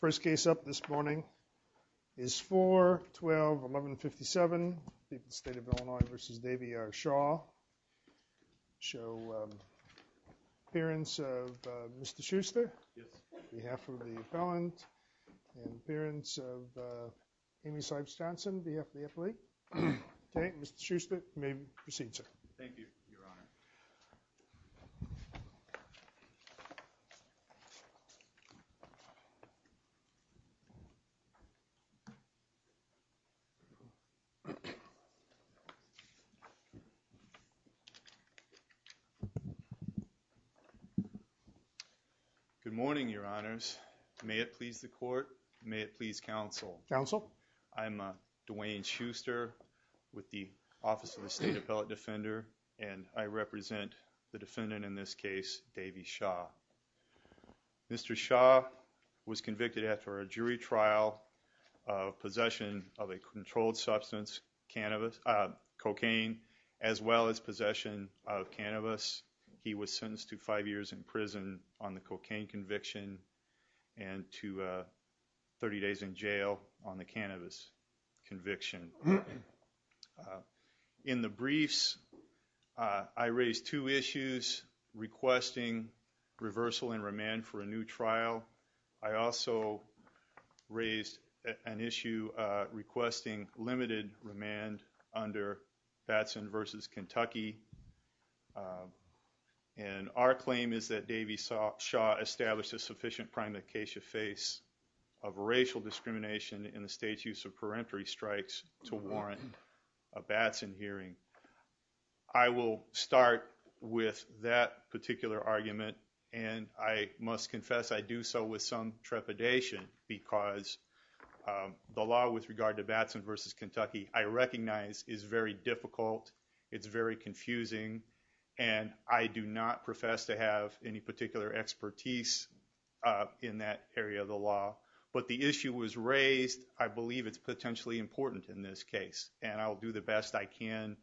First case up this morning is 4-12-1157 State of Illinois v. Davey R. Shaw. Appearance of Mr. Schuster on behalf of the appellant. Appearance of Amy Sipes Johnson on behalf of the athlete. Mr. Schuster, you may proceed sir. Thank you, your honor. Good morning, your honors. May it please the court, may it please counsel. Counsel. I'm Dwayne Schuster with the Office of the State Appellate Defender and I represent the defendant in this case, Davey Shaw. Mr. Shaw was convicted after a jury trial of possession of a controlled substance, cocaine, as well as possession of cannabis. He was sentenced to five years in prison on the cocaine conviction and to 30 days in jail on the cannabis conviction. In the briefs, I raised two issues requesting reversal and remand for a new trial. I also raised an issue requesting limited remand under Batson v. Kentucky. And our claim is that Davey Shaw established a sufficient prime acacia face of racial discrimination in the state's use of peremptory strikes to warrant a Batson hearing. I will start with that particular argument and I must confess I do so with some trepidation because the law with regard to Batson v. Kentucky I recognize is very difficult, it's very confusing and I do not profess to have any particular expertise in that area of the law. But the issue was raised, I believe it's potentially important in this case and I'll do the best I can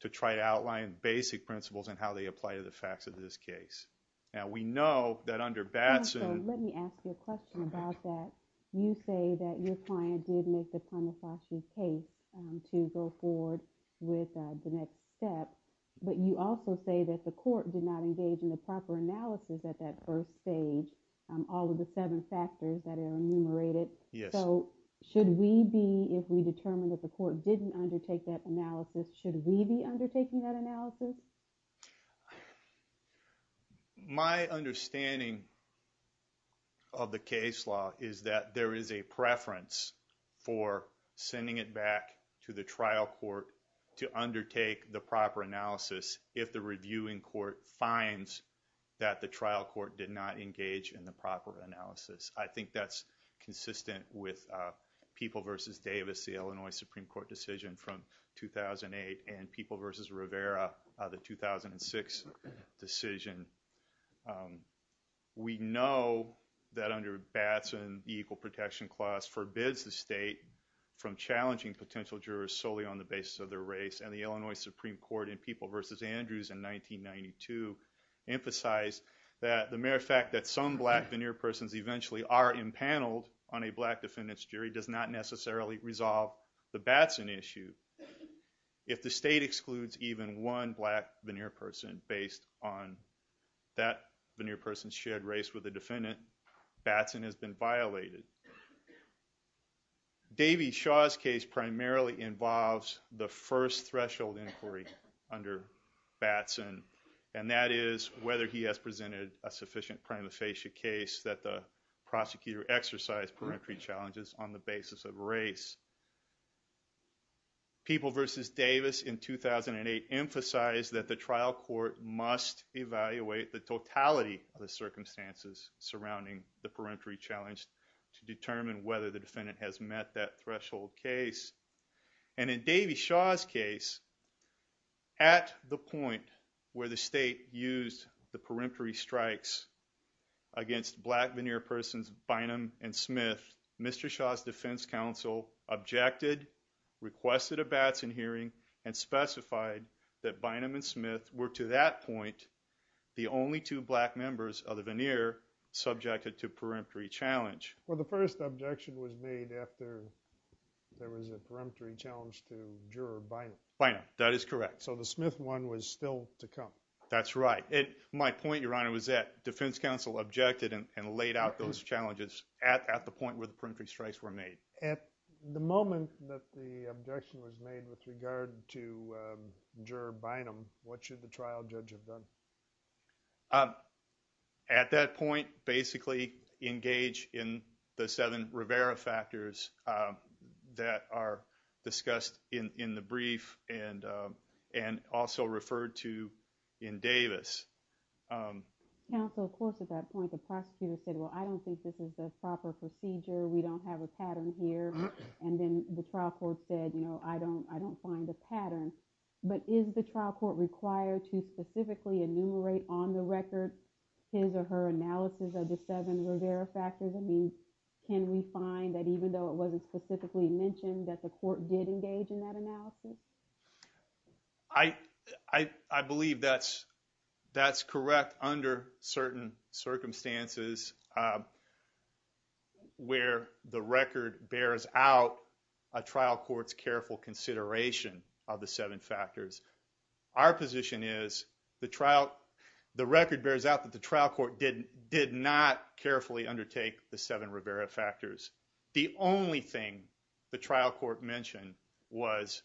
to try to outline basic principles and how they apply to the facts of this case. Now we know that under Batson... Let me ask you a question about that. You say that your client did make the prime acacia case to go forward with the next step but you also say that the court did not engage in the proper analysis at that first stage all of the seven factors that are enumerated. So should we be, if we determine that the court didn't undertake that analysis, should we be undertaking that analysis? My understanding of the case law is that there is a preference for sending it back to the trial court to undertake the proper analysis if the reviewing court finds that the trial court did not engage in the proper analysis. I think that's consistent with People v. Davis, the Illinois Supreme Court decision from 2008 and People v. Rivera, the 2006 decision. We know that under Batson the equal protection clause forbids the state from challenging potential jurors solely on the basis of their race and the Illinois Supreme Court in People v. Andrews in 1992 emphasized that the mere fact that some black veneer persons eventually are impaneled on a black defendant's jury does not necessarily resolve the Batson issue. If the state excludes even one black veneer person based on that veneer person's shared race with the defendant, Batson has been violated. Davey Shaw's case primarily involves the first threshold inquiry under Batson and that is whether he has presented a sufficient prima facie case that the prosecutor exercised peremptory challenges on the basis of race. People v. Davis in 2008 emphasized that the trial court must evaluate the totality of the circumstances surrounding the peremptory challenge to determine whether the defendant has met that threshold case. And in Davey Shaw's case, at the point where the state used the peremptory strikes against black veneer persons Bynum and Smith, Mr. Shaw's defense counsel objected, requested a Batson hearing, and specified that Bynum and Smith were to that point the only two black members of the veneer subjected to peremptory challenge. Well, the first objection was made after there was a peremptory challenge to juror Bynum. Bynum. That is correct. So the Smith one was still to come. That's right. And my point, Your Honor, was that defense counsel objected and laid out those challenges at the point where the peremptory strikes were made. At the moment that the objection was made with regard to juror Bynum, what should the trial judge have done? At that point, basically engage in the seven Rivera factors that are discussed in the brief and also referred to in Davis. Counsel, of course, at that point the prosecutor said, well, I don't think this is the proper procedure. We don't have a pattern here. And then the trial court said, you know, I don't find a pattern. But is the trial court required to specifically enumerate on the record his or her analysis of the seven Rivera factors? I mean, can we find that even though it wasn't specifically mentioned that the court did engage in that analysis? I believe that's correct under certain circumstances where the record bears out a trial court's careful consideration of the seven factors. Our position is the record bears out that the trial court did not carefully undertake the seven Rivera factors. The only thing the trial court mentioned was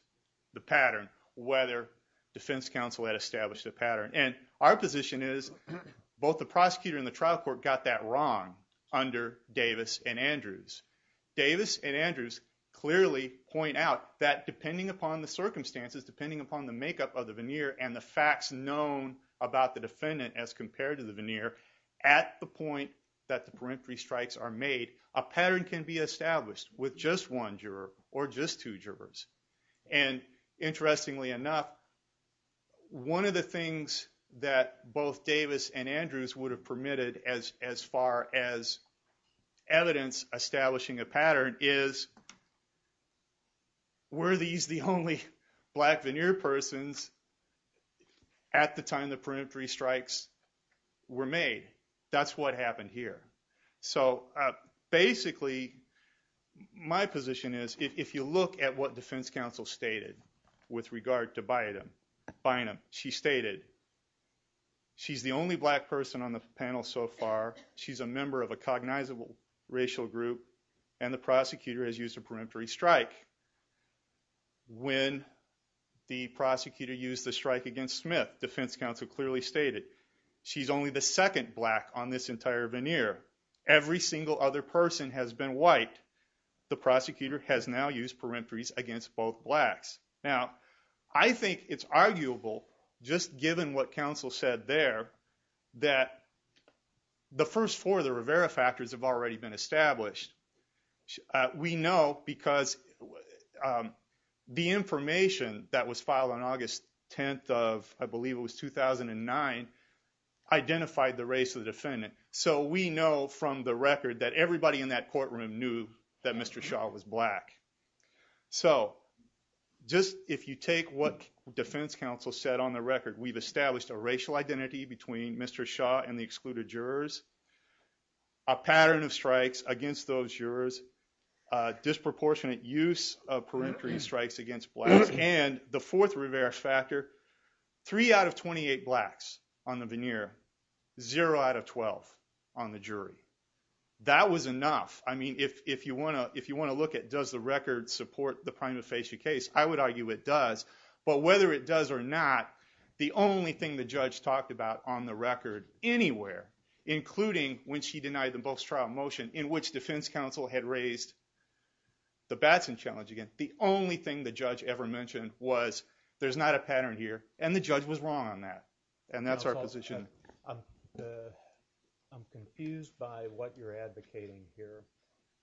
the pattern, whether defense counsel had established a pattern. And our position is both the prosecutor and the trial court got that wrong under Davis and Andrews. Davis and Andrews clearly point out that depending upon the circumstances, depending upon the makeup of the veneer and the facts known about the defendant as compared to the veneer, at the point that the peremptory strikes are made, a pattern can be established with just one juror or just two jurors. And interestingly enough, one of the things that both Davis and Andrews would have permitted as far as evidence establishing a pattern is, were these the only black veneer persons at the time the peremptory strikes were made? That's what happened here. So basically my position is if you look at what defense counsel stated with regard to Bynum, she stated she's the only black person on the panel so far, she's a member of a cognizable racial group, and the prosecutor has used a peremptory strike. When the prosecutor used the strike against Smith, defense counsel clearly stated she's only the second black on this entire veneer. Every single other person has been white. The prosecutor has now used peremptories against both blacks. Now, I think it's arguable just given what counsel said there that the first four of the Rivera factors have already been established. We know because the information that was filed on August 10th of, I believe it was 2009, identified the race of the defendant. So we know from the record that everybody in that courtroom knew that Mr. Shaw was black. So just if you take what defense counsel said on the record, we've established a racial identity between Mr. Shaw and the excluded jurors, a pattern of strikes against those jurors, disproportionate use of peremptory strikes against blacks, and the fourth Rivera factor, three out of 28 blacks on the veneer, zero out of 12 on the jury. That was enough. I mean, if you want to look at does the record support the prima facie case, I would argue it does. But whether it does or not, the only thing the judge talked about on the record anywhere, including when she denied the most trial motion in which defense counsel had raised the Batson challenge again, the only thing the judge ever mentioned was there's not a pattern here. And the judge was wrong on that. And that's our position. I'm confused by what you're advocating here.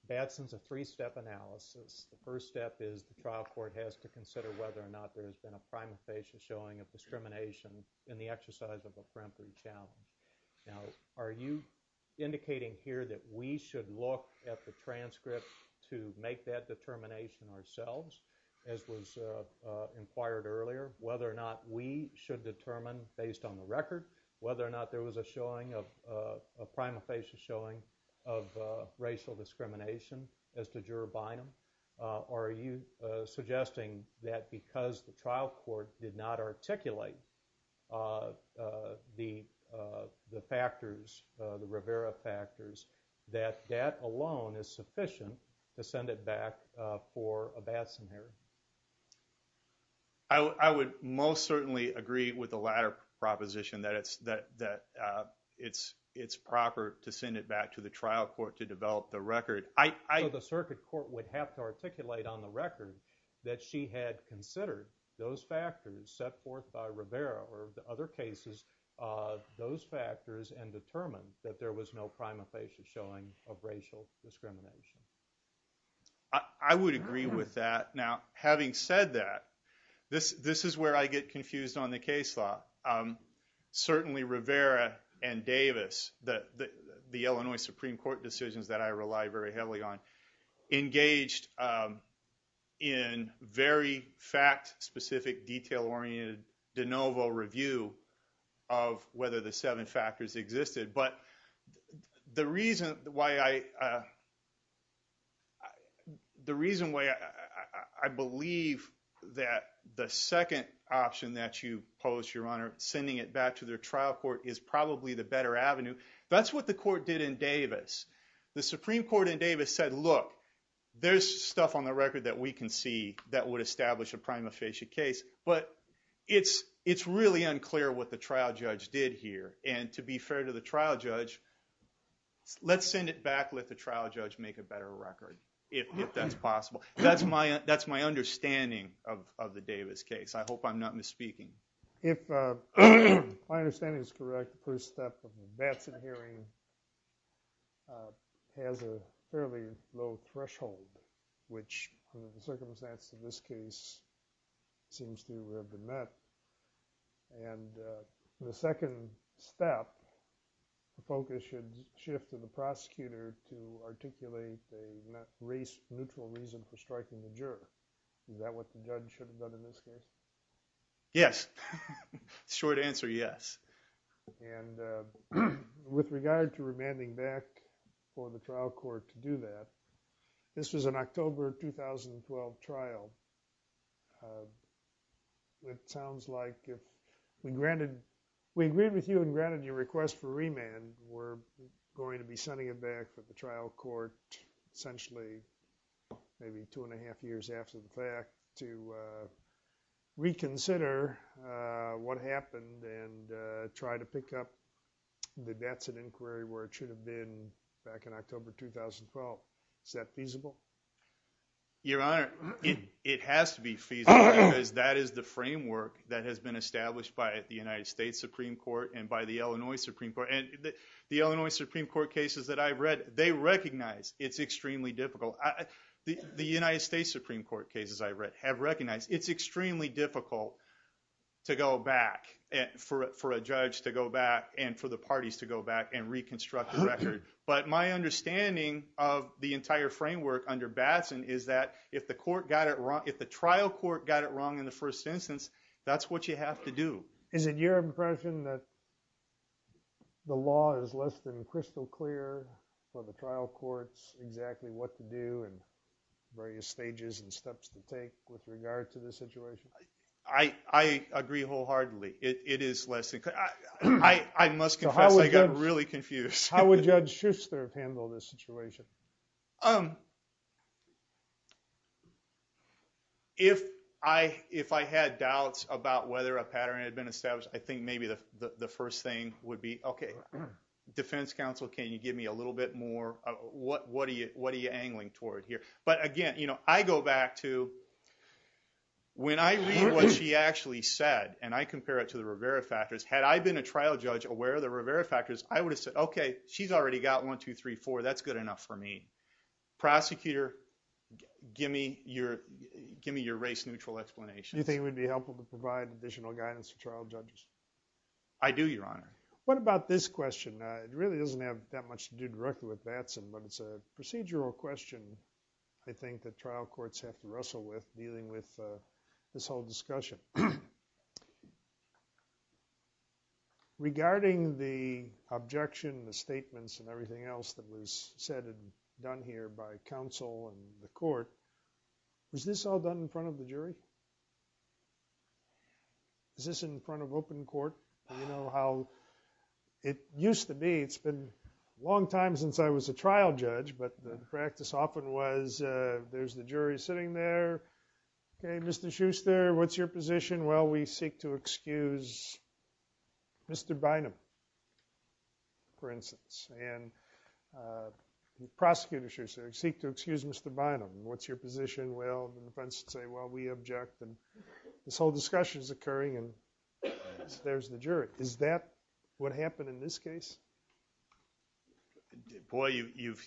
Batson's a three-step analysis. The first step is the trial court has to consider whether or not there has been a prima facie showing of discrimination in the exercise of a peremptory challenge. Now are you indicating here that we should look at the transcript to make that determination ourselves, as was inquired earlier, whether or not we should determine, based on the record, whether or not there was a showing of, a prima facie showing of racial discrimination as to juror Bynum? Or are you suggesting that because the trial court did not articulate the factors, the Rivera factors, that that alone is sufficient to send it back for a Batson hearing? I would most certainly agree with the latter proposition, that it's proper to send it back to the trial court to develop the record. So the circuit court would have to articulate on the record that she had considered those factors set forth by Rivera or the other cases, those factors, and determined that there was no prima facie showing of racial discrimination. I would agree with that. Now having said that, this is where I get confused on the case law. Certainly Rivera and Davis, the Illinois Supreme Court decisions that I rely very heavily on, engaged in very fact-specific, detail-oriented de novo review of whether the seven factors existed. But the reason why I, the reason why I believe that the second option that you pose, Your Honor, sending it back to their trial court is probably the better avenue. That's what the court did in Davis. The Supreme Court in Davis said, look, there's stuff on the record that we can see that would establish a prima facie case. But it's really unclear what the trial judge did here. And to be fair to the trial judge, let's send it back, let the trial judge make a better record, if that's possible. That's my understanding of the Davis case. I hope I'm not misspeaking. If my understanding is correct, the first step of the Batson hearing has a fairly low threshold, which under the circumstance of this case seems to have been met. And the second step, the focus should shift to the prosecutor to articulate a neutral reason for striking the juror. Is that what the judge should have done in this case? Yes. Short answer, yes. And with regard to remanding back for the trial court to do that, this was an October 2012 trial. It sounds like if we granted – we agreed with you and granted your request for remand, we're going to be sending it back for the trial court, essentially maybe two and a half years after the fact, to reconsider what happened and try to pick up the Batson inquiry where it should have been back in October 2012. Is that feasible? Your Honor, it has to be feasible because that is the framework that has been established by the United States Supreme Court and by the Illinois Supreme Court. And the Illinois Supreme Court cases that I've read, they recognize it's extremely difficult. The United States Supreme Court cases I've read have recognized it's extremely difficult to go back – for a judge to go back and for the parties to go back and reconstruct the record. But my understanding of the entire framework under Batson is that if the trial court got it wrong in the first instance, that's what you have to do. Is it your impression that the law is less than crystal clear for the trial courts exactly what to do and various stages and steps to take with regard to this situation? I agree wholeheartedly. It is less than clear. I must confess I got really confused. How would Judge Schuster handle this situation? If I had doubts about whether a pattern had been established, I think maybe the first thing would be, okay, defense counsel, can you give me a little bit more? What are you angling toward here? But again, I go back to when I read what she actually said and I compare it to the Rivera factors. Had I been a trial judge aware of the Rivera factors, I would have said, okay, she's already got 1, 2, 3, 4. That's good enough for me. Prosecutor, give me your race-neutral explanation. Do you think it would be helpful to provide additional guidance to trial judges? I do, Your Honor. What about this question? It really doesn't have that much to do directly with Batson, but it's a procedural question I think that trial courts have to wrestle with dealing with this whole discussion. Regarding the objection, the statements, and everything else that was said and done here by counsel and the court, was this all done in front of the jury? Is this in front of open court? Do you know how it used to be? It's been a long time since I was a trial judge, but the practice often was there's the jury sitting there. Okay, Mr. Schuster, what's your position? Well, we seek to excuse Mr. Bynum, for instance. And the prosecutor, Schuster, seeks to excuse Mr. Bynum. What's your position? Well, the defense would say, well, we object. This whole discussion is occurring and there's the jury. Is that what happened in this case? Boy, you've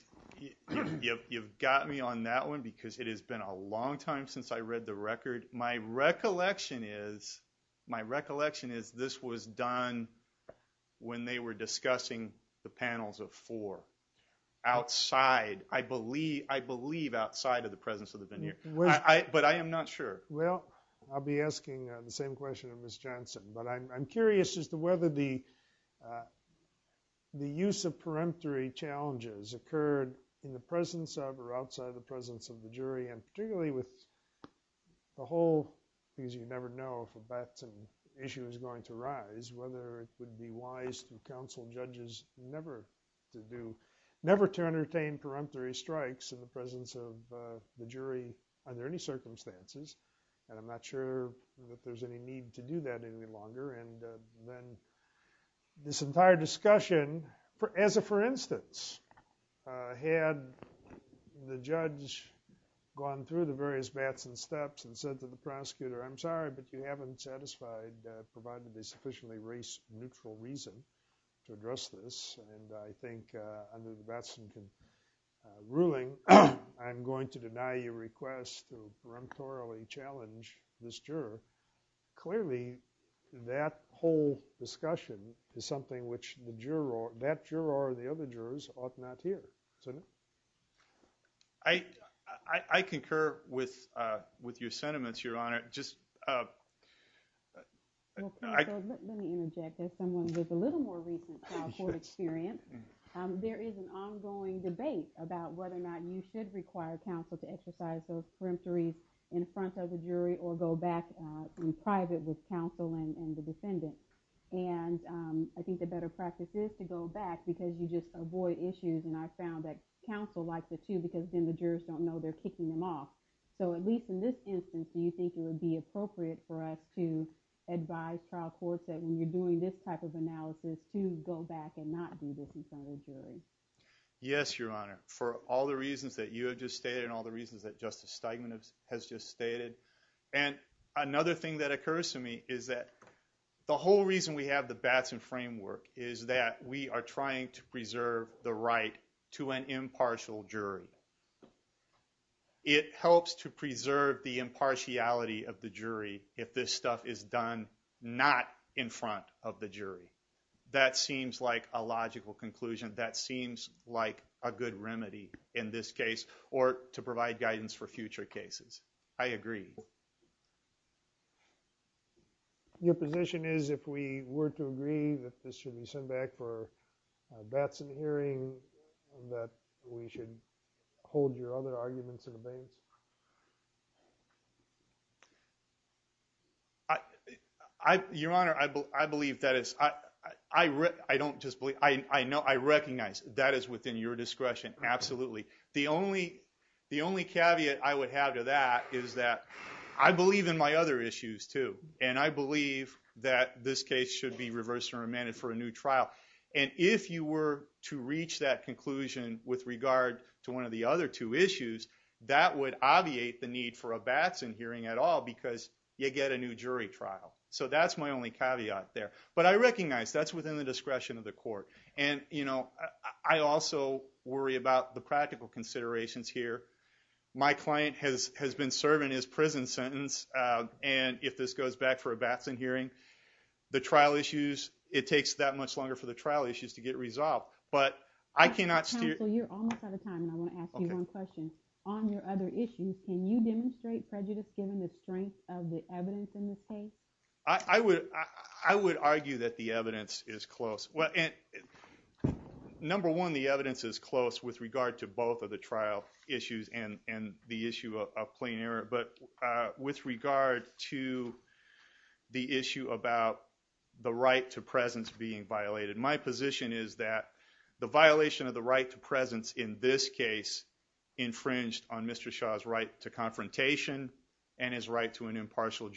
got me on that one because it has been a long time since I read the record. My recollection is this was done when they were discussing the panels of four outside. I believe outside of the presence of the veneer. But I am not sure. Well, I'll be asking the same question of Ms. Johnson. But I'm curious as to whether the use of peremptory challenges occurred in the presence of or outside of the presence of the jury. And particularly with the whole – because you never know if a baton issue is going to rise – whether it would be wise to counsel judges never to do – never to entertain peremptory strikes in the presence of the jury under any circumstances. And I'm not sure that there's any need to do that any longer. And then this entire discussion, as a for instance, had the judge gone through the various bats and steps and said to the prosecutor, I'm sorry, but you haven't satisfied provided a sufficiently race-neutral reason to address this. And I think under the Batson ruling, I'm going to deny your request to peremptorily challenge this juror. Clearly, that whole discussion is something which the juror – that juror or the other jurors ought not hear. Senator? I concur with your sentiments, Your Honor. Just – Let me interject. As someone with a little more recent trial court experience, there is an ongoing debate about whether or not you should require counsel to exercise those peremptories in front of the jury or go back in private with counsel and the defendant. And I think the better practice is to go back because you just avoid issues. And I found that counsel likes it too because then the jurors don't know they're kicking them off. So at least in this instance, do you think it would be appropriate for us to advise trial courts that when you're doing this type of analysis to go back and not do this in front of the jury? Yes, Your Honor. For all the reasons that you have just stated and all the reasons that Justice Steinman has just stated. And another thing that occurs to me is that the whole reason we have the Batson framework is that we are trying to preserve the right to an impartial jury. It helps to preserve the impartiality of the jury if this stuff is done not in front of the jury. That seems like a logical conclusion. That seems like a good remedy in this case or to provide guidance for future cases. I agree. Your position is if we were to agree that this should be sent back for a Batson hearing that we should hold your other arguments in abeyance? Your Honor, I believe that it's – I don't just believe – I recognize that is within your discretion. Absolutely. The only caveat I would have to that is that I believe in my other issues too. And I believe that this case should be reversed and remanded for a new trial. And if you were to reach that conclusion with regard to one of the other two issues, that would obviate the need for a Batson hearing at all because you get a new jury trial. So that's my only caveat there. But I recognize that's within the discretion of the court. And, you know, I also worry about the practical considerations here. My client has been serving his prison sentence. And if this goes back for a Batson hearing, the trial issues – it takes that much longer for the trial issues to get resolved. But I cannot steer – So you're almost out of time and I want to ask you one question. On your other issues, can you demonstrate prejudice given the strength of the evidence in this case? I would argue that the evidence is close. Well, number one, the evidence is close with regard to both of the trial issues and the issue of plain error. But with regard to the issue about the right to presence being violated, my position is that the violation of the right to presence in this case infringed on Mr. Shah's right to confrontation and his right to an unconstitutional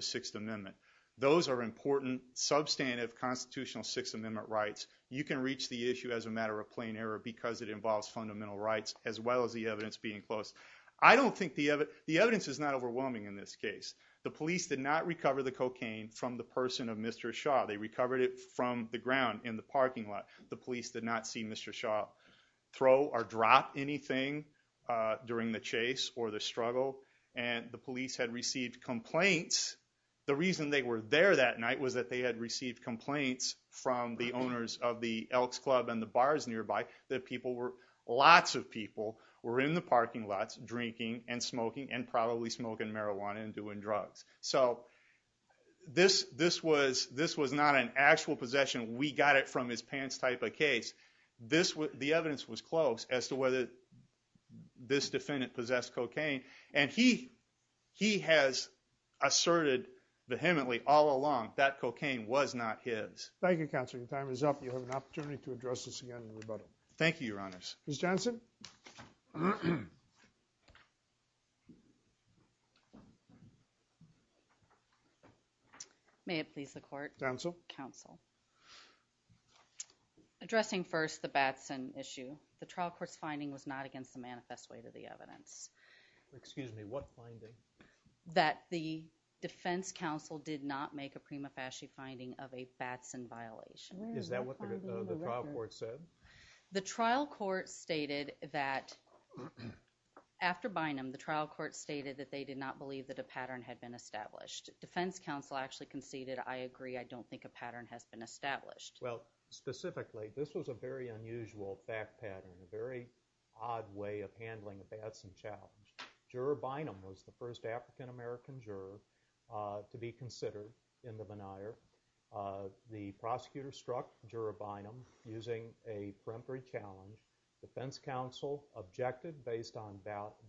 Sixth Amendment. Those are important, substantive constitutional Sixth Amendment rights. You can reach the issue as a matter of plain error because it involves fundamental rights as well as the evidence being close. I don't think – the evidence is not overwhelming in this case. The police did not recover the cocaine from the person of Mr. Shah. They recovered it from the ground in the parking lot. The police did not see Mr. Shah throw or drop anything during the chase or the struggle and the police had received complaints. The reason they were there that night was that they had received complaints from the owners of the Elks Club and the bars nearby that people were – lots of people were in the parking lots drinking and smoking and probably smoking marijuana and doing drugs. So this was not an actual possession. We got it from his pants type of case. The evidence was close as to whether this defendant possessed cocaine and he has asserted vehemently all along that cocaine was not his. Thank you, Counselor. Your time is up. You have an opportunity to address this again in rebuttal. Thank you, Your Honors. Ms. Johnson. May it please the court. Counsel. Counsel. Addressing first the Batson issue, the trial court's finding was not against the manifest way to the evidence. Excuse me. What finding? That the defense counsel did not make a prima facie finding of a Batson violation. Is that what the trial court said? The trial court stated that – after Bynum, the trial court stated that they did not believe that a pattern had been established. Defense counsel actually conceded, I agree, I don't think a pattern has been established. Well, specifically, this was a very unusual fact pattern, a very odd way of handling a Batson challenge. Juror Bynum was the first African-American juror to be considered in the veneer. The prosecutor struck Juror Bynum using a peremptory challenge. Defense counsel objected based on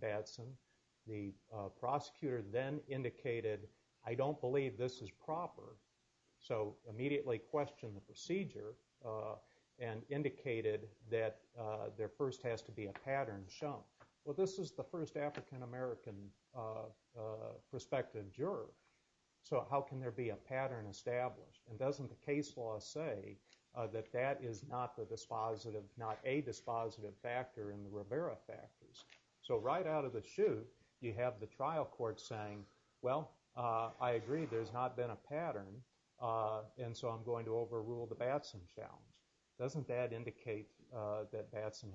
Batson. The prosecutor then indicated, I don't believe this is proper, so immediately questioned the procedure and indicated that there first has to be a pattern shown. Well, this is the first African-American prospective juror, so how can there be a pattern established? And doesn't the case law say that that is not a dispositive factor in the Rivera factors? So right out of the chute, you have the trial court saying, well, I agree, there's not been a pattern, and so I'm going to overrule the Batson challenge. Doesn't that indicate that Batson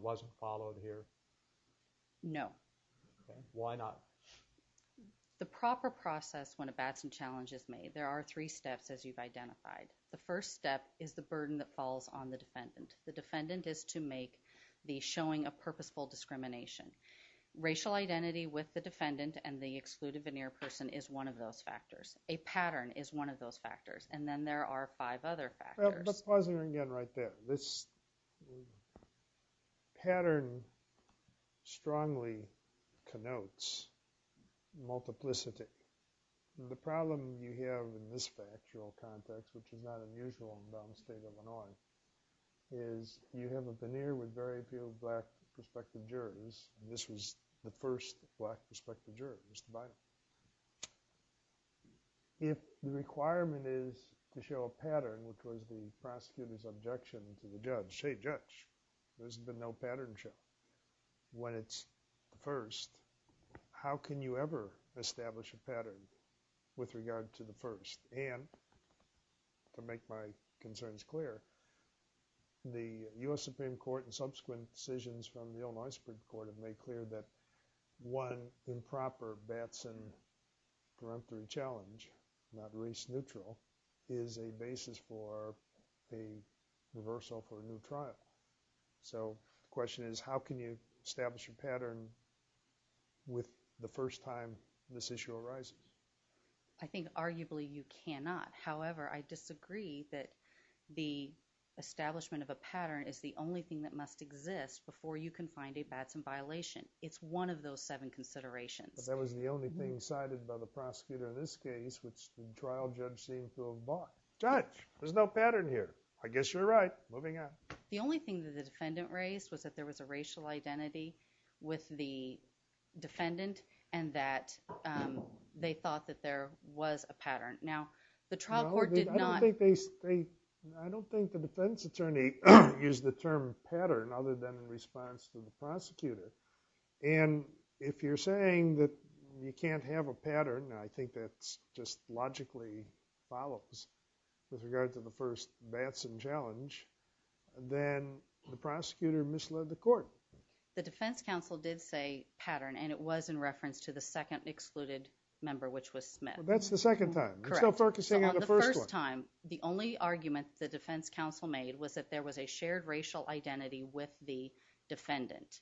wasn't followed here? No. Why not? The proper process when a Batson challenge is made, there are three steps as you've identified. The first step is the burden that falls on the defendant. The defendant is to make the showing of purposeful discrimination. Racial identity with the defendant and the excluded veneer person is one of those factors. A pattern is one of those factors. And then there are five other factors. Let's pause here again right there. This pattern strongly connotes multiplicity. The problem you have in this factual context, which is not unusual in the state of Illinois, is you have a veneer with very few black prospective jurors. This was the first black prospective juror, Mr. Bynum. If the requirement is to show a pattern, which was the prosecutor's objection to the judge, hey, judge, there's been no pattern show. When it's the first, how can you ever establish a pattern with regard to the first? And to make my concerns clear, the U.S. Supreme Court and subsequent decisions from the Illinois Supreme Court have made clear that one improper Batson run-through challenge, not race neutral, is a basis for a reversal for a new trial. So the question is how can you establish a pattern with the first time this issue arises? I think arguably you cannot. However, I disagree that the establishment of a pattern is the only thing that must exist before you can find a Batson violation. It's one of those seven considerations. But that was the only thing cited by the prosecutor in this case, which the trial judge seemed to have bought. Judge, there's no pattern here. I guess you're right. Moving on. The only thing that the defendant raised was that there was a racial identity with the defendant and that they thought that there was a pattern. Now, the trial court did not... I don't think the defense attorney used the term pattern other than in response to the prosecutor. And if you're saying that you can't have a pattern, I think that just logically follows with regard to the first Batson challenge, then the prosecutor misled the court. The defense counsel did say pattern, and it was in reference to the second excluded member, which was Smith. That's the second time. Correct. I'm still focusing on the first one. So on the first time, the only argument the defense counsel made was that there was a shared racial identity with the defendant.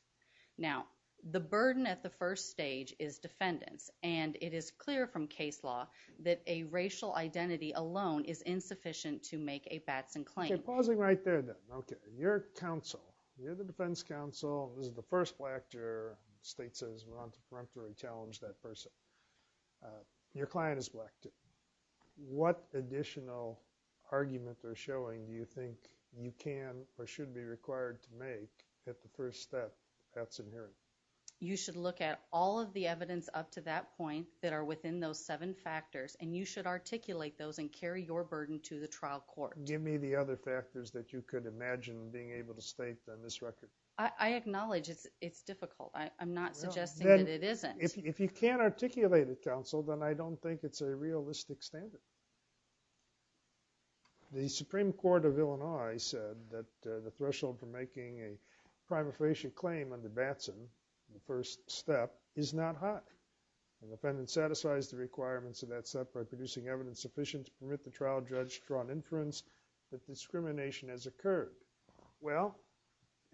Now, the burden at the first stage is defendants, and it is clear from case law that a racial identity alone is insufficient to make a Batson claim. Okay, pausing right there then. Okay, you're counsel. You're the defense counsel. This is the first black juror. The state says we want to preemptory challenge that person. Your client is black, too. What additional argument they're showing do you think you can or should be required to make at the first step of Batson hearing? You should look at all of the evidence up to that point that are within those seven factors, and you should articulate those and carry your burden to the trial court. Give me the other factors that you could imagine being able to state on this record. I acknowledge it's difficult. I'm not suggesting that it isn't. If you can't articulate it, counsel, then I don't think it's a realistic standard. The Supreme Court of Illinois said that the threshold for making a prima facie claim under Batson, the first step, is not high. The defendant satisfies the requirements of that step by producing evidence sufficient to permit the trial judge to draw an inference that discrimination has occurred. Well,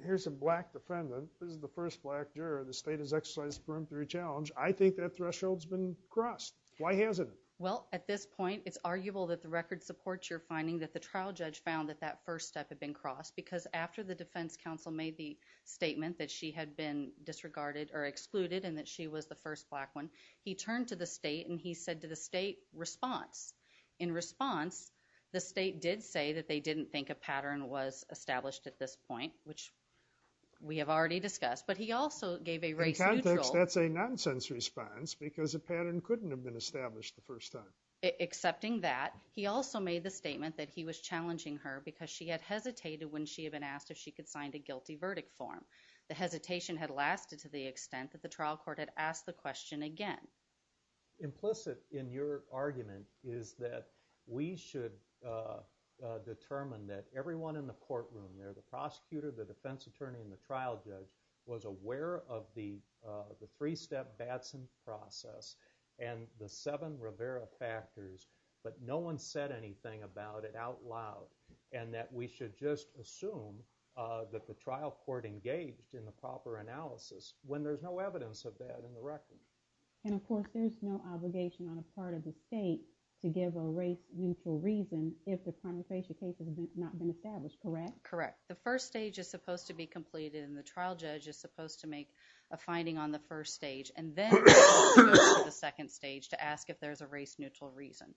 here's a black defendant. This is the first black juror. The state has exercised preemptory challenge. I think that threshold's been crossed. Why hasn't it? Well, at this point, it's arguable that the record supports your finding that the trial judge found that that first step had been crossed because after the defense counsel made the statement that she had been disregarded or excluded and that she was the first black one, he turned to the state and he said to the state, response. In response, the state did say that they didn't think a pattern was established at this point, which we have already discussed, but he also gave a race neutral. In context, that's a nonsense response because a pattern couldn't have been established the first time. Accepting that, he also made the statement that he was challenging her because she had hesitated when she had been asked if she could sign the guilty verdict form. The hesitation had lasted to the extent that the trial court had asked the question again. Implicit in your argument is that we should determine that everyone in the courtroom there, the prosecutor, the defense attorney, and the trial judge, was aware of the three-step Batson process and the seven Rivera factors, but no one said anything about it out loud and that we should just assume that the trial court engaged in the proper analysis when there's no evidence of that in the record. And of course, there's no obligation on a part of the state to give a race neutral reason if the confrontation case has not been established, correct? Correct. The first stage is supposed to be completed and the trial judge is supposed to make a finding on the first stage and then go to the second stage to ask if there's a race neutral reason.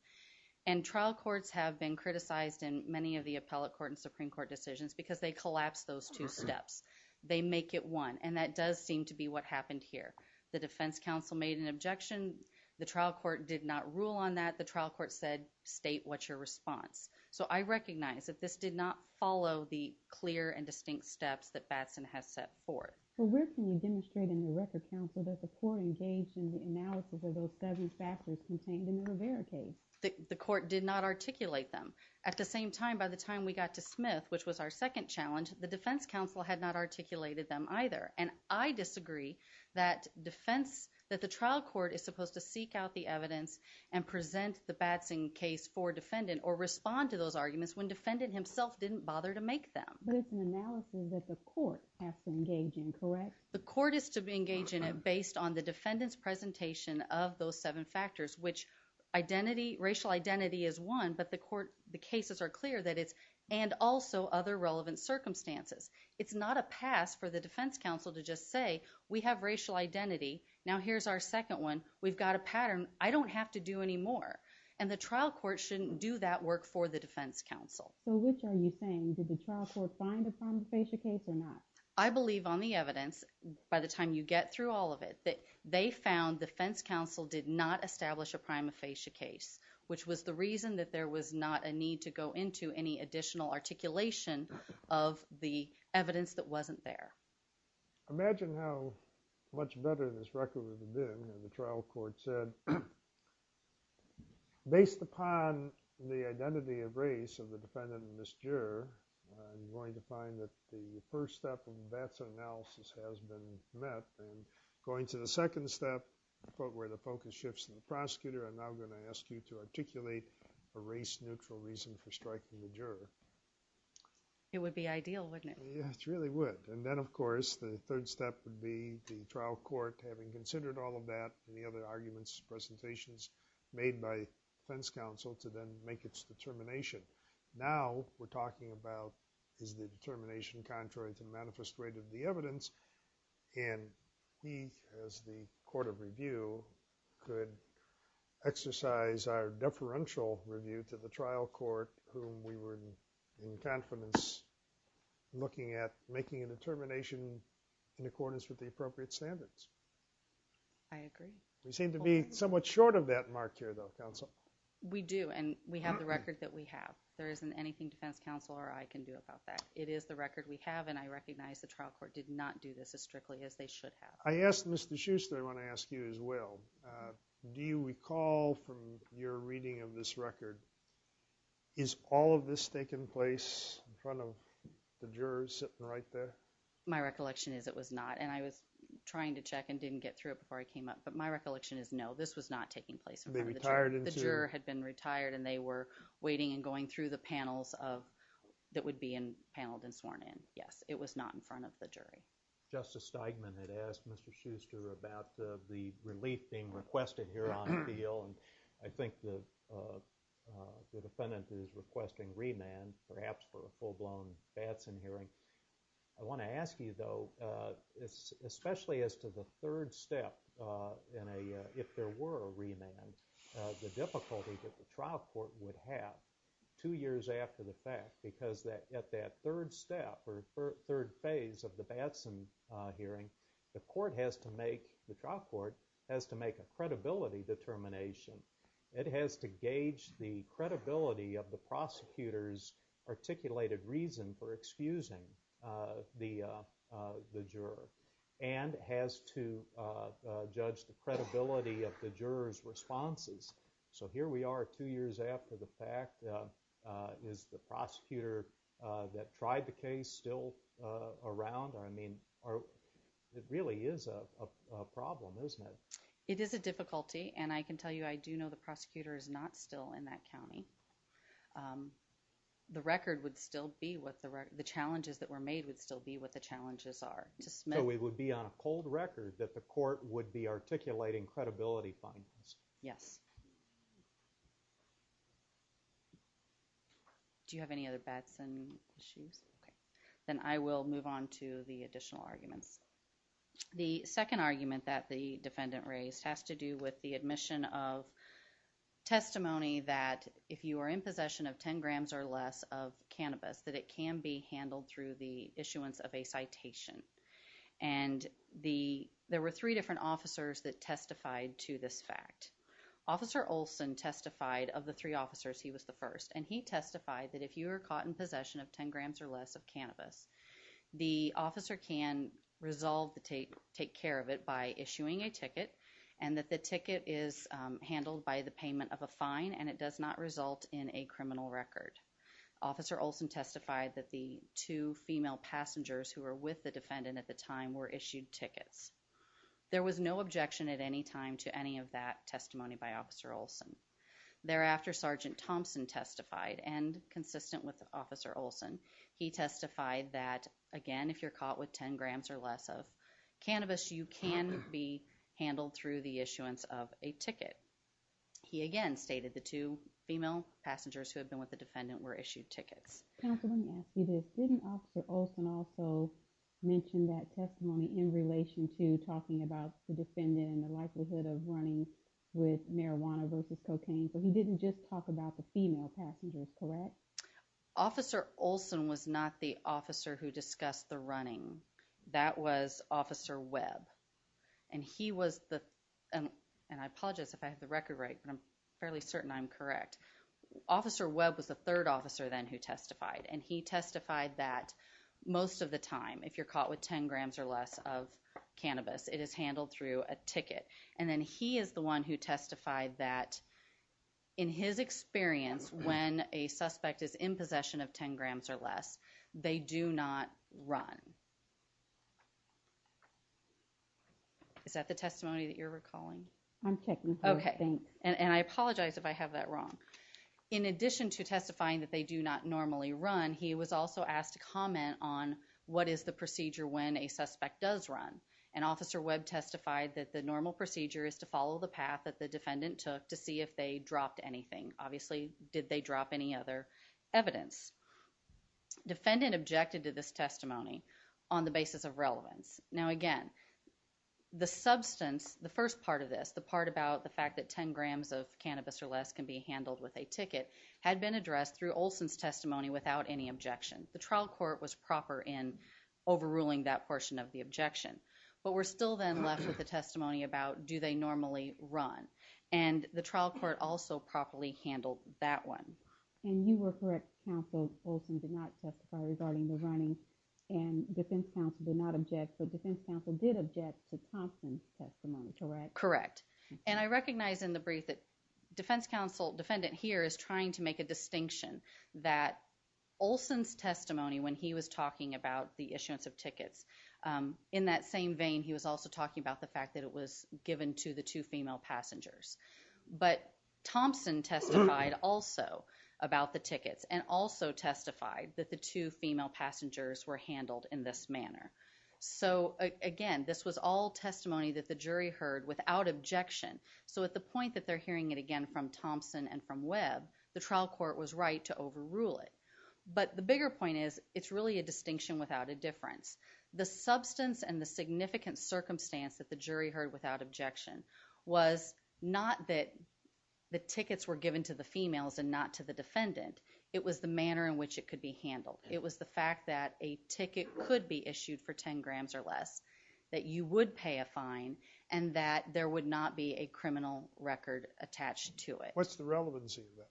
And trial courts have been criticized in many of the appellate court and supreme court decisions because they collapse those two steps. They make it one and that does seem to be what happened here. The defense counsel made an objection. The trial court did not rule on that. The trial court said state what's your response. So, I recognize that this did not follow the clear and distinct steps that Batson has set forth. Well, where can you demonstrate in the record counsel that the court engaged in the analysis of those seven factors contained in the Rivera case? The court did not articulate them. At the same time, by the time we got to Smith, which was our second challenge, the defense counsel had not articulated them either and I disagree that defense, that the trial court is supposed to seek out the evidence and present the Batson case for defendant or respond to those arguments when defendant himself didn't bother to make them. But it's an analysis that the court has to engage in, correct? The court is to be engaged in it based on the defendant's presentation of those seven factors which identity, racial identity is one but the court, the cases are clear that it's, and also other relevant circumstances. It's not a pass for the defense counsel to just say, we have racial identity, now here's our second one, we've got a pattern, I don't have to do anymore. And the trial court shouldn't do that work for the defense counsel. So, which are you saying? Did the trial court find a prima facie case or not? I believe on the evidence, by the time you get through all of it, that they found defense counsel did not establish a prima facie case which was the reason that there was not a need to go into any additional articulation of the evidence that wasn't there. Imagine how much better this record would have been if the trial court said, based upon the identity of race of the defendant and this juror, I'm going to find that the first step of the BATSA analysis has been met and going to the second step, where the focus shifts to the prosecutor, I'm now going to ask you to articulate a race-neutral reason for striking the juror. It would be ideal, wouldn't it? It really would. And then, of course, the third step would be the trial court, having considered all of that and the other arguments, presentations made by defense counsel to then make its determination. Now we're talking about is the determination contrary to the manifest rate of the evidence? And he, as the court of review, could exercise our deferential review to the trial court whom we were in confidence looking at making a determination in accordance with the appropriate standards. I agree. We seem to be somewhat short of that mark here, though, counsel. We do, and we have the record that we have. There isn't anything defense counsel or I can do about that. But it is the record we have, and I recognize the trial court did not do this as strictly as they should have. I asked Mr. Schuster, I want to ask you as well, do you recall from your reading of this record, is all of this taking place in front of the jurors sitting right there? My recollection is it was not, and I was trying to check and didn't get through it before I came up. But my recollection is no, this was not taking place in front of the jurors. The juror had been retired, and they were waiting and going through the panels of, that would be paneled and sworn in. Yes, it was not in front of the jury. Justice Steigman had asked Mr. Schuster about the relief being requested here on appeal, and I think the defendant is requesting remand, perhaps for a full-blown Batson hearing. I want to ask you though, especially as to the third step, if there were a remand, the difficulty that the trial court would have two years after the fact, because at that third step or third phase of the Batson hearing, the court has to make, the trial court has to make a credibility determination. It has to gauge the credibility of the prosecutor's articulated reason for excusing the juror, and has to judge the credibility of the juror's responses. So here we are two years after the fact. Is the prosecutor that tried the case still around? I mean, it really is a problem, isn't it? It is a difficulty, and I can tell you, I do know the prosecutor is not still in that county. The record would still be what the record, the challenges that were made would still be what the challenges are. So it would be on a cold record that the court would be articulating credibility findings. Yes. Do you have any other Batson issues? Okay. Then I will move on to the additional arguments. The second argument that the defendant raised has to do with the admission of testimony that if you are in possession of 10 grams or less of cannabis, that it can be handled through the issuance of a citation. And there were three different officers that testified to this fact. Officer Olson testified of the three officers. He was the first, and he testified that if you are caught in possession of 10 grams or less of cannabis, the officer can resolve to take care of it by issuing a ticket, and that the ticket is handled by the payment of a fine, and it does not result in a criminal record. Officer Olson testified that the two female passengers who were with the defendant at the time were issued tickets. There was no objection at any time to any of that testimony by Officer Olson. Thereafter, Sergeant Thompson testified, and consistent with Officer Olson, he testified that again, if you are caught with 10 grams or less of cannabis, you can be handled through the issuance of a ticket. He again stated the two female passengers who had been with the defendant were issued tickets. Counsel, let me ask you this. Didn't Officer Olson also mention that testimony in relation to talking about the defendant and the likelihood of running with marijuana versus cocaine? So he didn't just talk about the female passengers, correct? Officer Olson was not the officer who discussed the running. That was Officer Webb, and he was the, and I apologize if I have the record right, but I'm fairly certain I'm correct. Officer Webb was the third officer then who testified, and he testified that most of the time, if you're caught with 10 grams or less of cannabis, it is handled through a ticket. And then he is the one who testified that in his experience, when a suspect is in possession of 10 grams or less, they do not run. Is that the testimony that you're recalling? I'm checking first, thanks. And I apologize if I have that wrong. In addition to testifying that they do not normally run, he was also asked to comment on what is the procedure when a suspect does run. And Officer Webb testified that the normal procedure is to follow the path that the defendant took to see if they dropped anything. Obviously, did they drop any other evidence? Defendant objected to this testimony on the basis of relevance. Now again, the substance, the first part of this, the part about the fact that 10 grams of cannabis or less can be handled with a ticket had been addressed through Olson's testimony without any objection. The trial court was proper in overruling that portion of the objection. But we're still then left with the testimony about do they normally run. And the trial court also properly handled that one. And you were correct, counsel, Olson did not testify regarding the running and defense counsel did not object, but defense counsel did object to Thompson's testimony, correct? Correct. And I recognize in the brief that defense counsel, defendant here is trying to make a distinction that Olson's testimony when he was talking about the issuance of tickets, um, in that same vein he was also talking about the fact that it was given to the two female passengers. But Thompson testified also about the tickets and also testified that the two female passengers were handled in this manner. So, again, this was all testimony that the jury heard without objection. So at the point that they're hearing it again from Thompson and from Webb, the trial court was right to overrule it. But the bigger point is it's really a distinction without a difference. The substance and the significant circumstance that the jury heard without objection was not that the tickets were given to the females and not to the defendant. It was the manner in which it could be handled. It was the fact that a ticket could be issued for 10 grams or less, that you would pay a fine, and that there would not be a criminal record attached to it. What's the relevancy of that?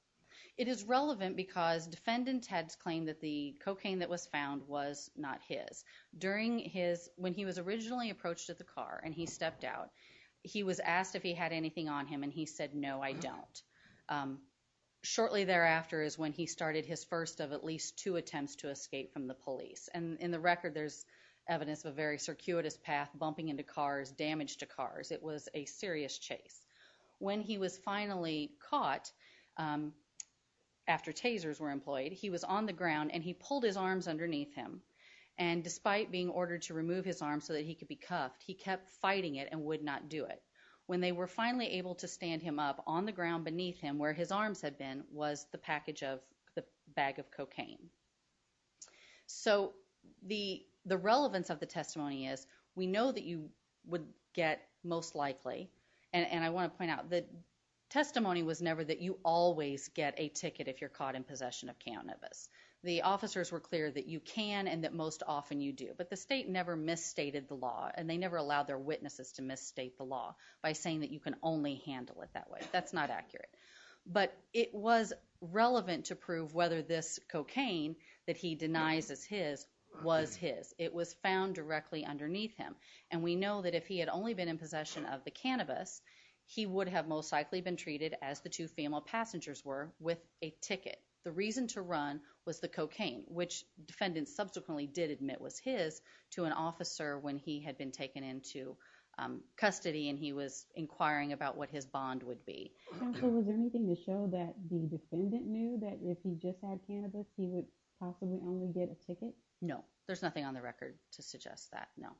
It is relevant because defendant had claimed that the cocaine that was found was not his. During his, when he was originally approached at the car and he stepped out, he was asked if he had anything on him and he said, no, I don't. Um, shortly thereafter is when he started his first of at least two attempts to escape from the police. And in the record there's evidence of a very circuitous path, bumping into cars, damage to cars. It was a serious chase. When he was finally caught, um, after tasers were employed, he was on the ground and he pulled his arms underneath him. And despite being ordered to remove his arms so that he could be cuffed, he kept fighting it and would not do it. When they were finally able to stand him up, on the ground beneath him where his arms had been was the package of, the bag of cocaine. So the, the relevance of the testimony is, we know that you would get most likely, and I want to point out that testimony was never that you always get a ticket if you're caught in possession of cannabis. The officers were clear that you can and that most often you do. But the state never misstated the law and they never allowed their witnesses to misstate the law by saying that you can only handle it that way. That's not accurate. But it was relevant to prove whether this cocaine that he denies as his was his. It was found directly underneath him. And we know that if he had only been in possession of the cannabis, he would have most likely been treated as the two female passengers were with a ticket. The reason to run was the cocaine, which defendants subsequently did admit was his, to an officer when he had been taken into, um, custody and he was inquiring about what his bond would be. Counsel, was there anything to show that the defendant knew that if he just had cannabis, he would possibly only get a ticket? No. There's nothing on the record to suggest that. No.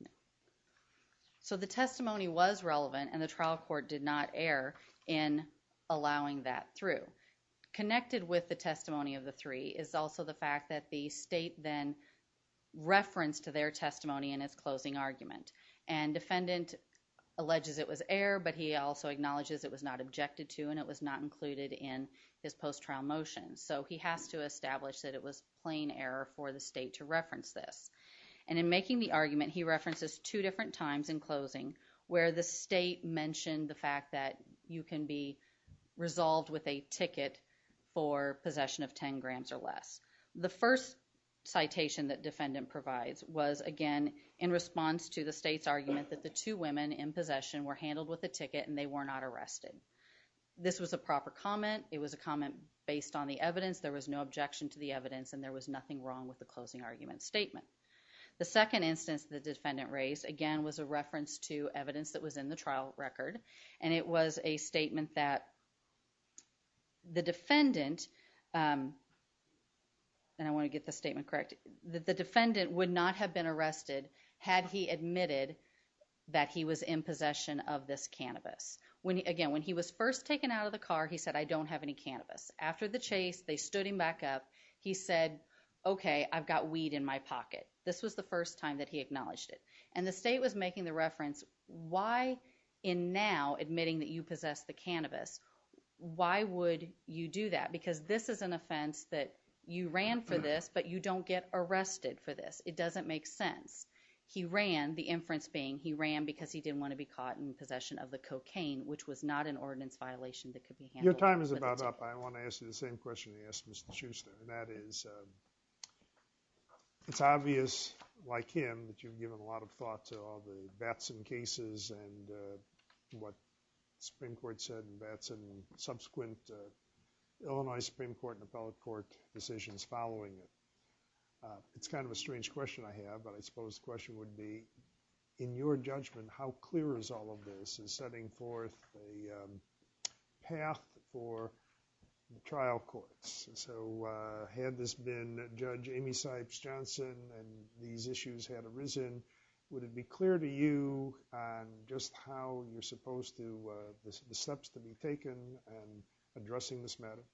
No. So the testimony was relevant and the trial court did not err in allowing that through. Connected with the testimony of the three is also the fact that the state then referenced to their testimony in its closing argument. And defendant alleges it was air, but he also acknowledges it was not objected to and it was not included in his post-trial motion. So he has to establish that it was plain error for the state to reference this. And in making the argument, he references two different times in closing where the state mentioned the fact that you can be resolved with a ticket for possession of 10 grams or less. The first citation that defendant provides was again, in response to the state's argument that the two women in possession were handled with a ticket and they were not arrested. This was a proper comment. It was a comment based on the evidence. There was no objection to the evidence and there was nothing wrong with the closing argument statement. The second instance the defendant raised, again, was a reference to evidence that was in the trial record and it was a statement that the defendant, um, and I want to get the statement correct, that the defendant would not have been arrested had he admitted that he was in possession of this cannabis. Again, when he was first taken out of the car, he said, I don't have any cannabis. After the chase, they stood him back up. He said, okay, I've got weed in my pocket. This was the first time that he acknowledged it. And the state was making the reference, why in now admitting that you possess the cannabis, why would you do that? Because this is an offense that you ran for this, but you don't get arrested for this. It doesn't make sense. He ran, the inference being, he ran because he didn't want to be caught in possession of the cocaine, which was not an ordinance violation that could be handled with a ticket. Your time is about up. I want to ask you the same question you asked Mr. Schuster. And that is, it's obvious, like him, that you've given a lot of thought to all the Batson cases and what the Supreme Court and appellate court decisions following it. It's kind of a strange question I have, but I suppose the question would be, in your judgment, how clear is all of this is setting forth a path for trial courts. So had this been Judge Amy Sipes Johnson and these issues had arisen, would it be clear to you just how you're supposed to, the steps to be taken in addressing this matter?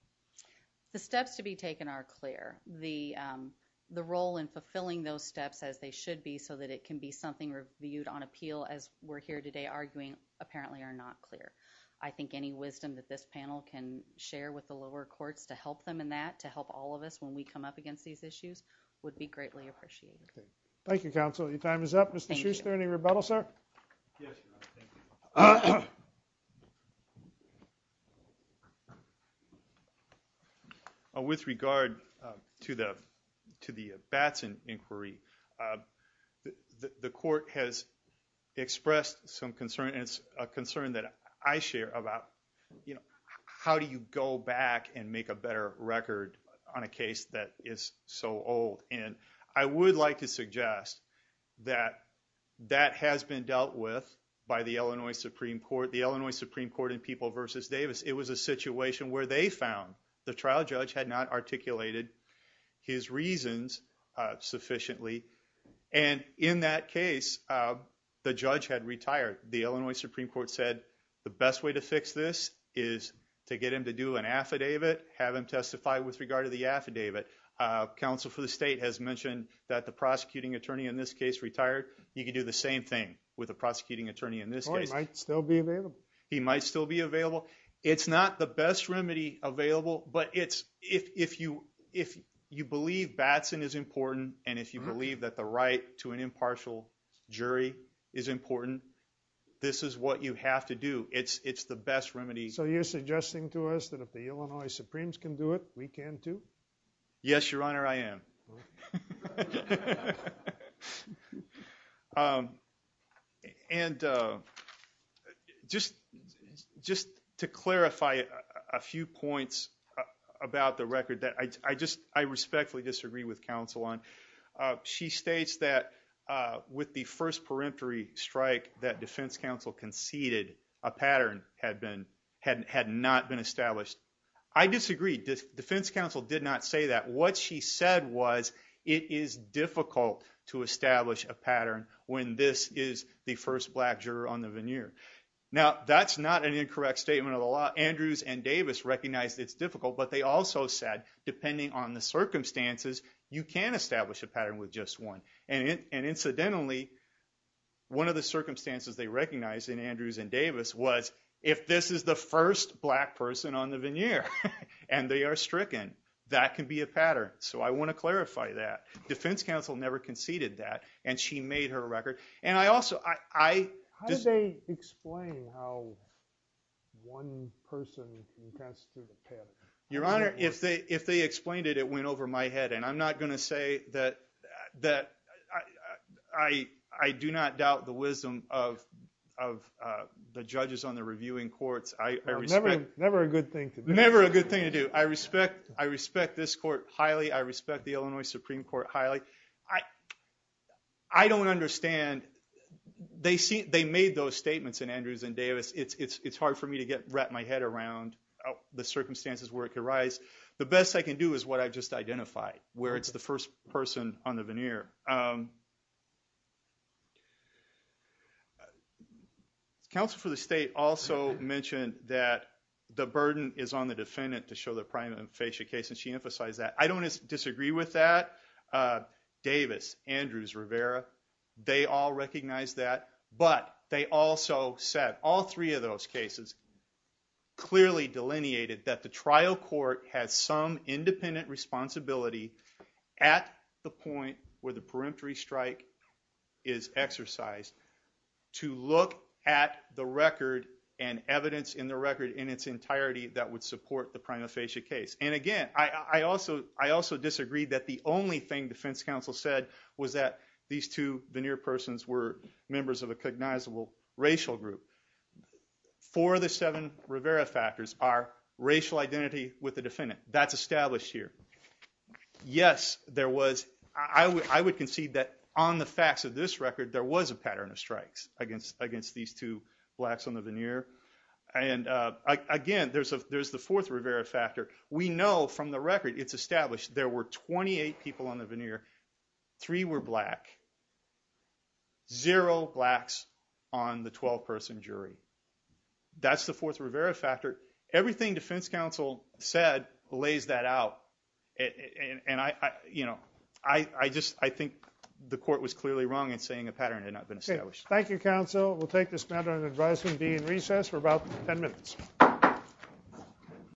The steps to be taken are clear. The role in fulfilling those steps, as they should be, so that it can be something reviewed on appeal, as we're here today arguing, apparently are not clear. I think any wisdom that this panel can share with the lower courts to help them in that, to help all of us when we come up against these issues, would be greatly appreciated. Thank you, counsel. Your time is up. Mr. Schuster, any rebuttal, sir? Yes, Your Honor. Thank you. With regard to the Batson inquiry, the court has expressed some concern, and it's a concern that I share about, you know, how do you go back and make a better record on a case that is so old? And I would like to suggest that that has been dealt with by the Illinois Supreme Court. The Illinois Supreme Court in People v. Davis, it was a situation where they found the trial judge had not articulated his reasons sufficiently. And in that case, the judge had retired. The Illinois Supreme Court said the best way to fix this is to get him to do an affidavit, have him testify with regard to the affidavit. Counsel for the state has mentioned that the prosecuting attorney in this case retired. You could do the same thing with the prosecuting attorney in this case. Well, he might still be available. He might still be available. It's not the best remedy available, but if you believe Batson is important, and if you believe that the right to an impartial jury is important, this is what you have to do. It's the best remedy. So you're suggesting to us that if the Illinois Supremes can do it, we can too? Yes, Your Honor, I am. And just to clarify a few points about the record that I respectfully disagree with counsel on. She states that with the first peremptory strike that defense counsel conceded, a pattern had not been established. I disagree. Defense counsel did not say that. What she said was it is difficult to establish a pattern when this is the first black juror on the veneer. Now, that's not an incorrect statement of the law. Andrews and Davis recognized it's difficult, but they also said, depending on the circumstances, you can establish a pattern with just one. And incidentally, one of the circumstances they recognized in Andrews and Davis' case was a black juror on the veneer. And they are stricken. That can be a pattern. So I want to clarify that. Defense counsel never conceded that, and she made her record. And I also – How do they explain how one person contested a pattern? Your Honor, if they explained it, it went over my head. And I'm not going to say that – I do not doubt the wisdom of the judges on the reviewing courts. Never a good thing to do. Never a good thing to do. I respect this court highly. I respect the Illinois Supreme Court highly. I don't understand. They made those statements in Andrews and Davis. It's hard for me to wrap my head around the circumstances where it could rise. The best I can do is what I just identified, where it's the first person on the veneer. Counsel for the state also mentioned that the burden is on the defendant to show the prima facie case, and she emphasized that. I don't disagree with that. Davis, Andrews, Rivera, they all recognized that. But they also said all three of those cases clearly delineated that the trial court has some independent responsibility at the point where the peremptory strike is exercised to look at the record and evidence in the record in its entirety that would support the prima facie case. And again, I also disagreed that the only thing defense counsel said was that these two veneer persons were members of a cognizable racial group. Four of the seven Rivera factors are racial identity with the defendant. That's established here. Yes, there was. I would concede that on the facts of this record, there was a pattern of strikes against these two blacks on the veneer. And again, there's the fourth Rivera factor. We know from the record, it's established there were 28 people on the veneer. Three were black. Zero blacks on the 12-person jury. That's the fourth Rivera factor. Everything defense counsel said lays that out. And I just think the court was clearly wrong in saying a pattern had not been established. Thank you, counsel. We'll take this matter under advisement and be in recess for about 10 minutes.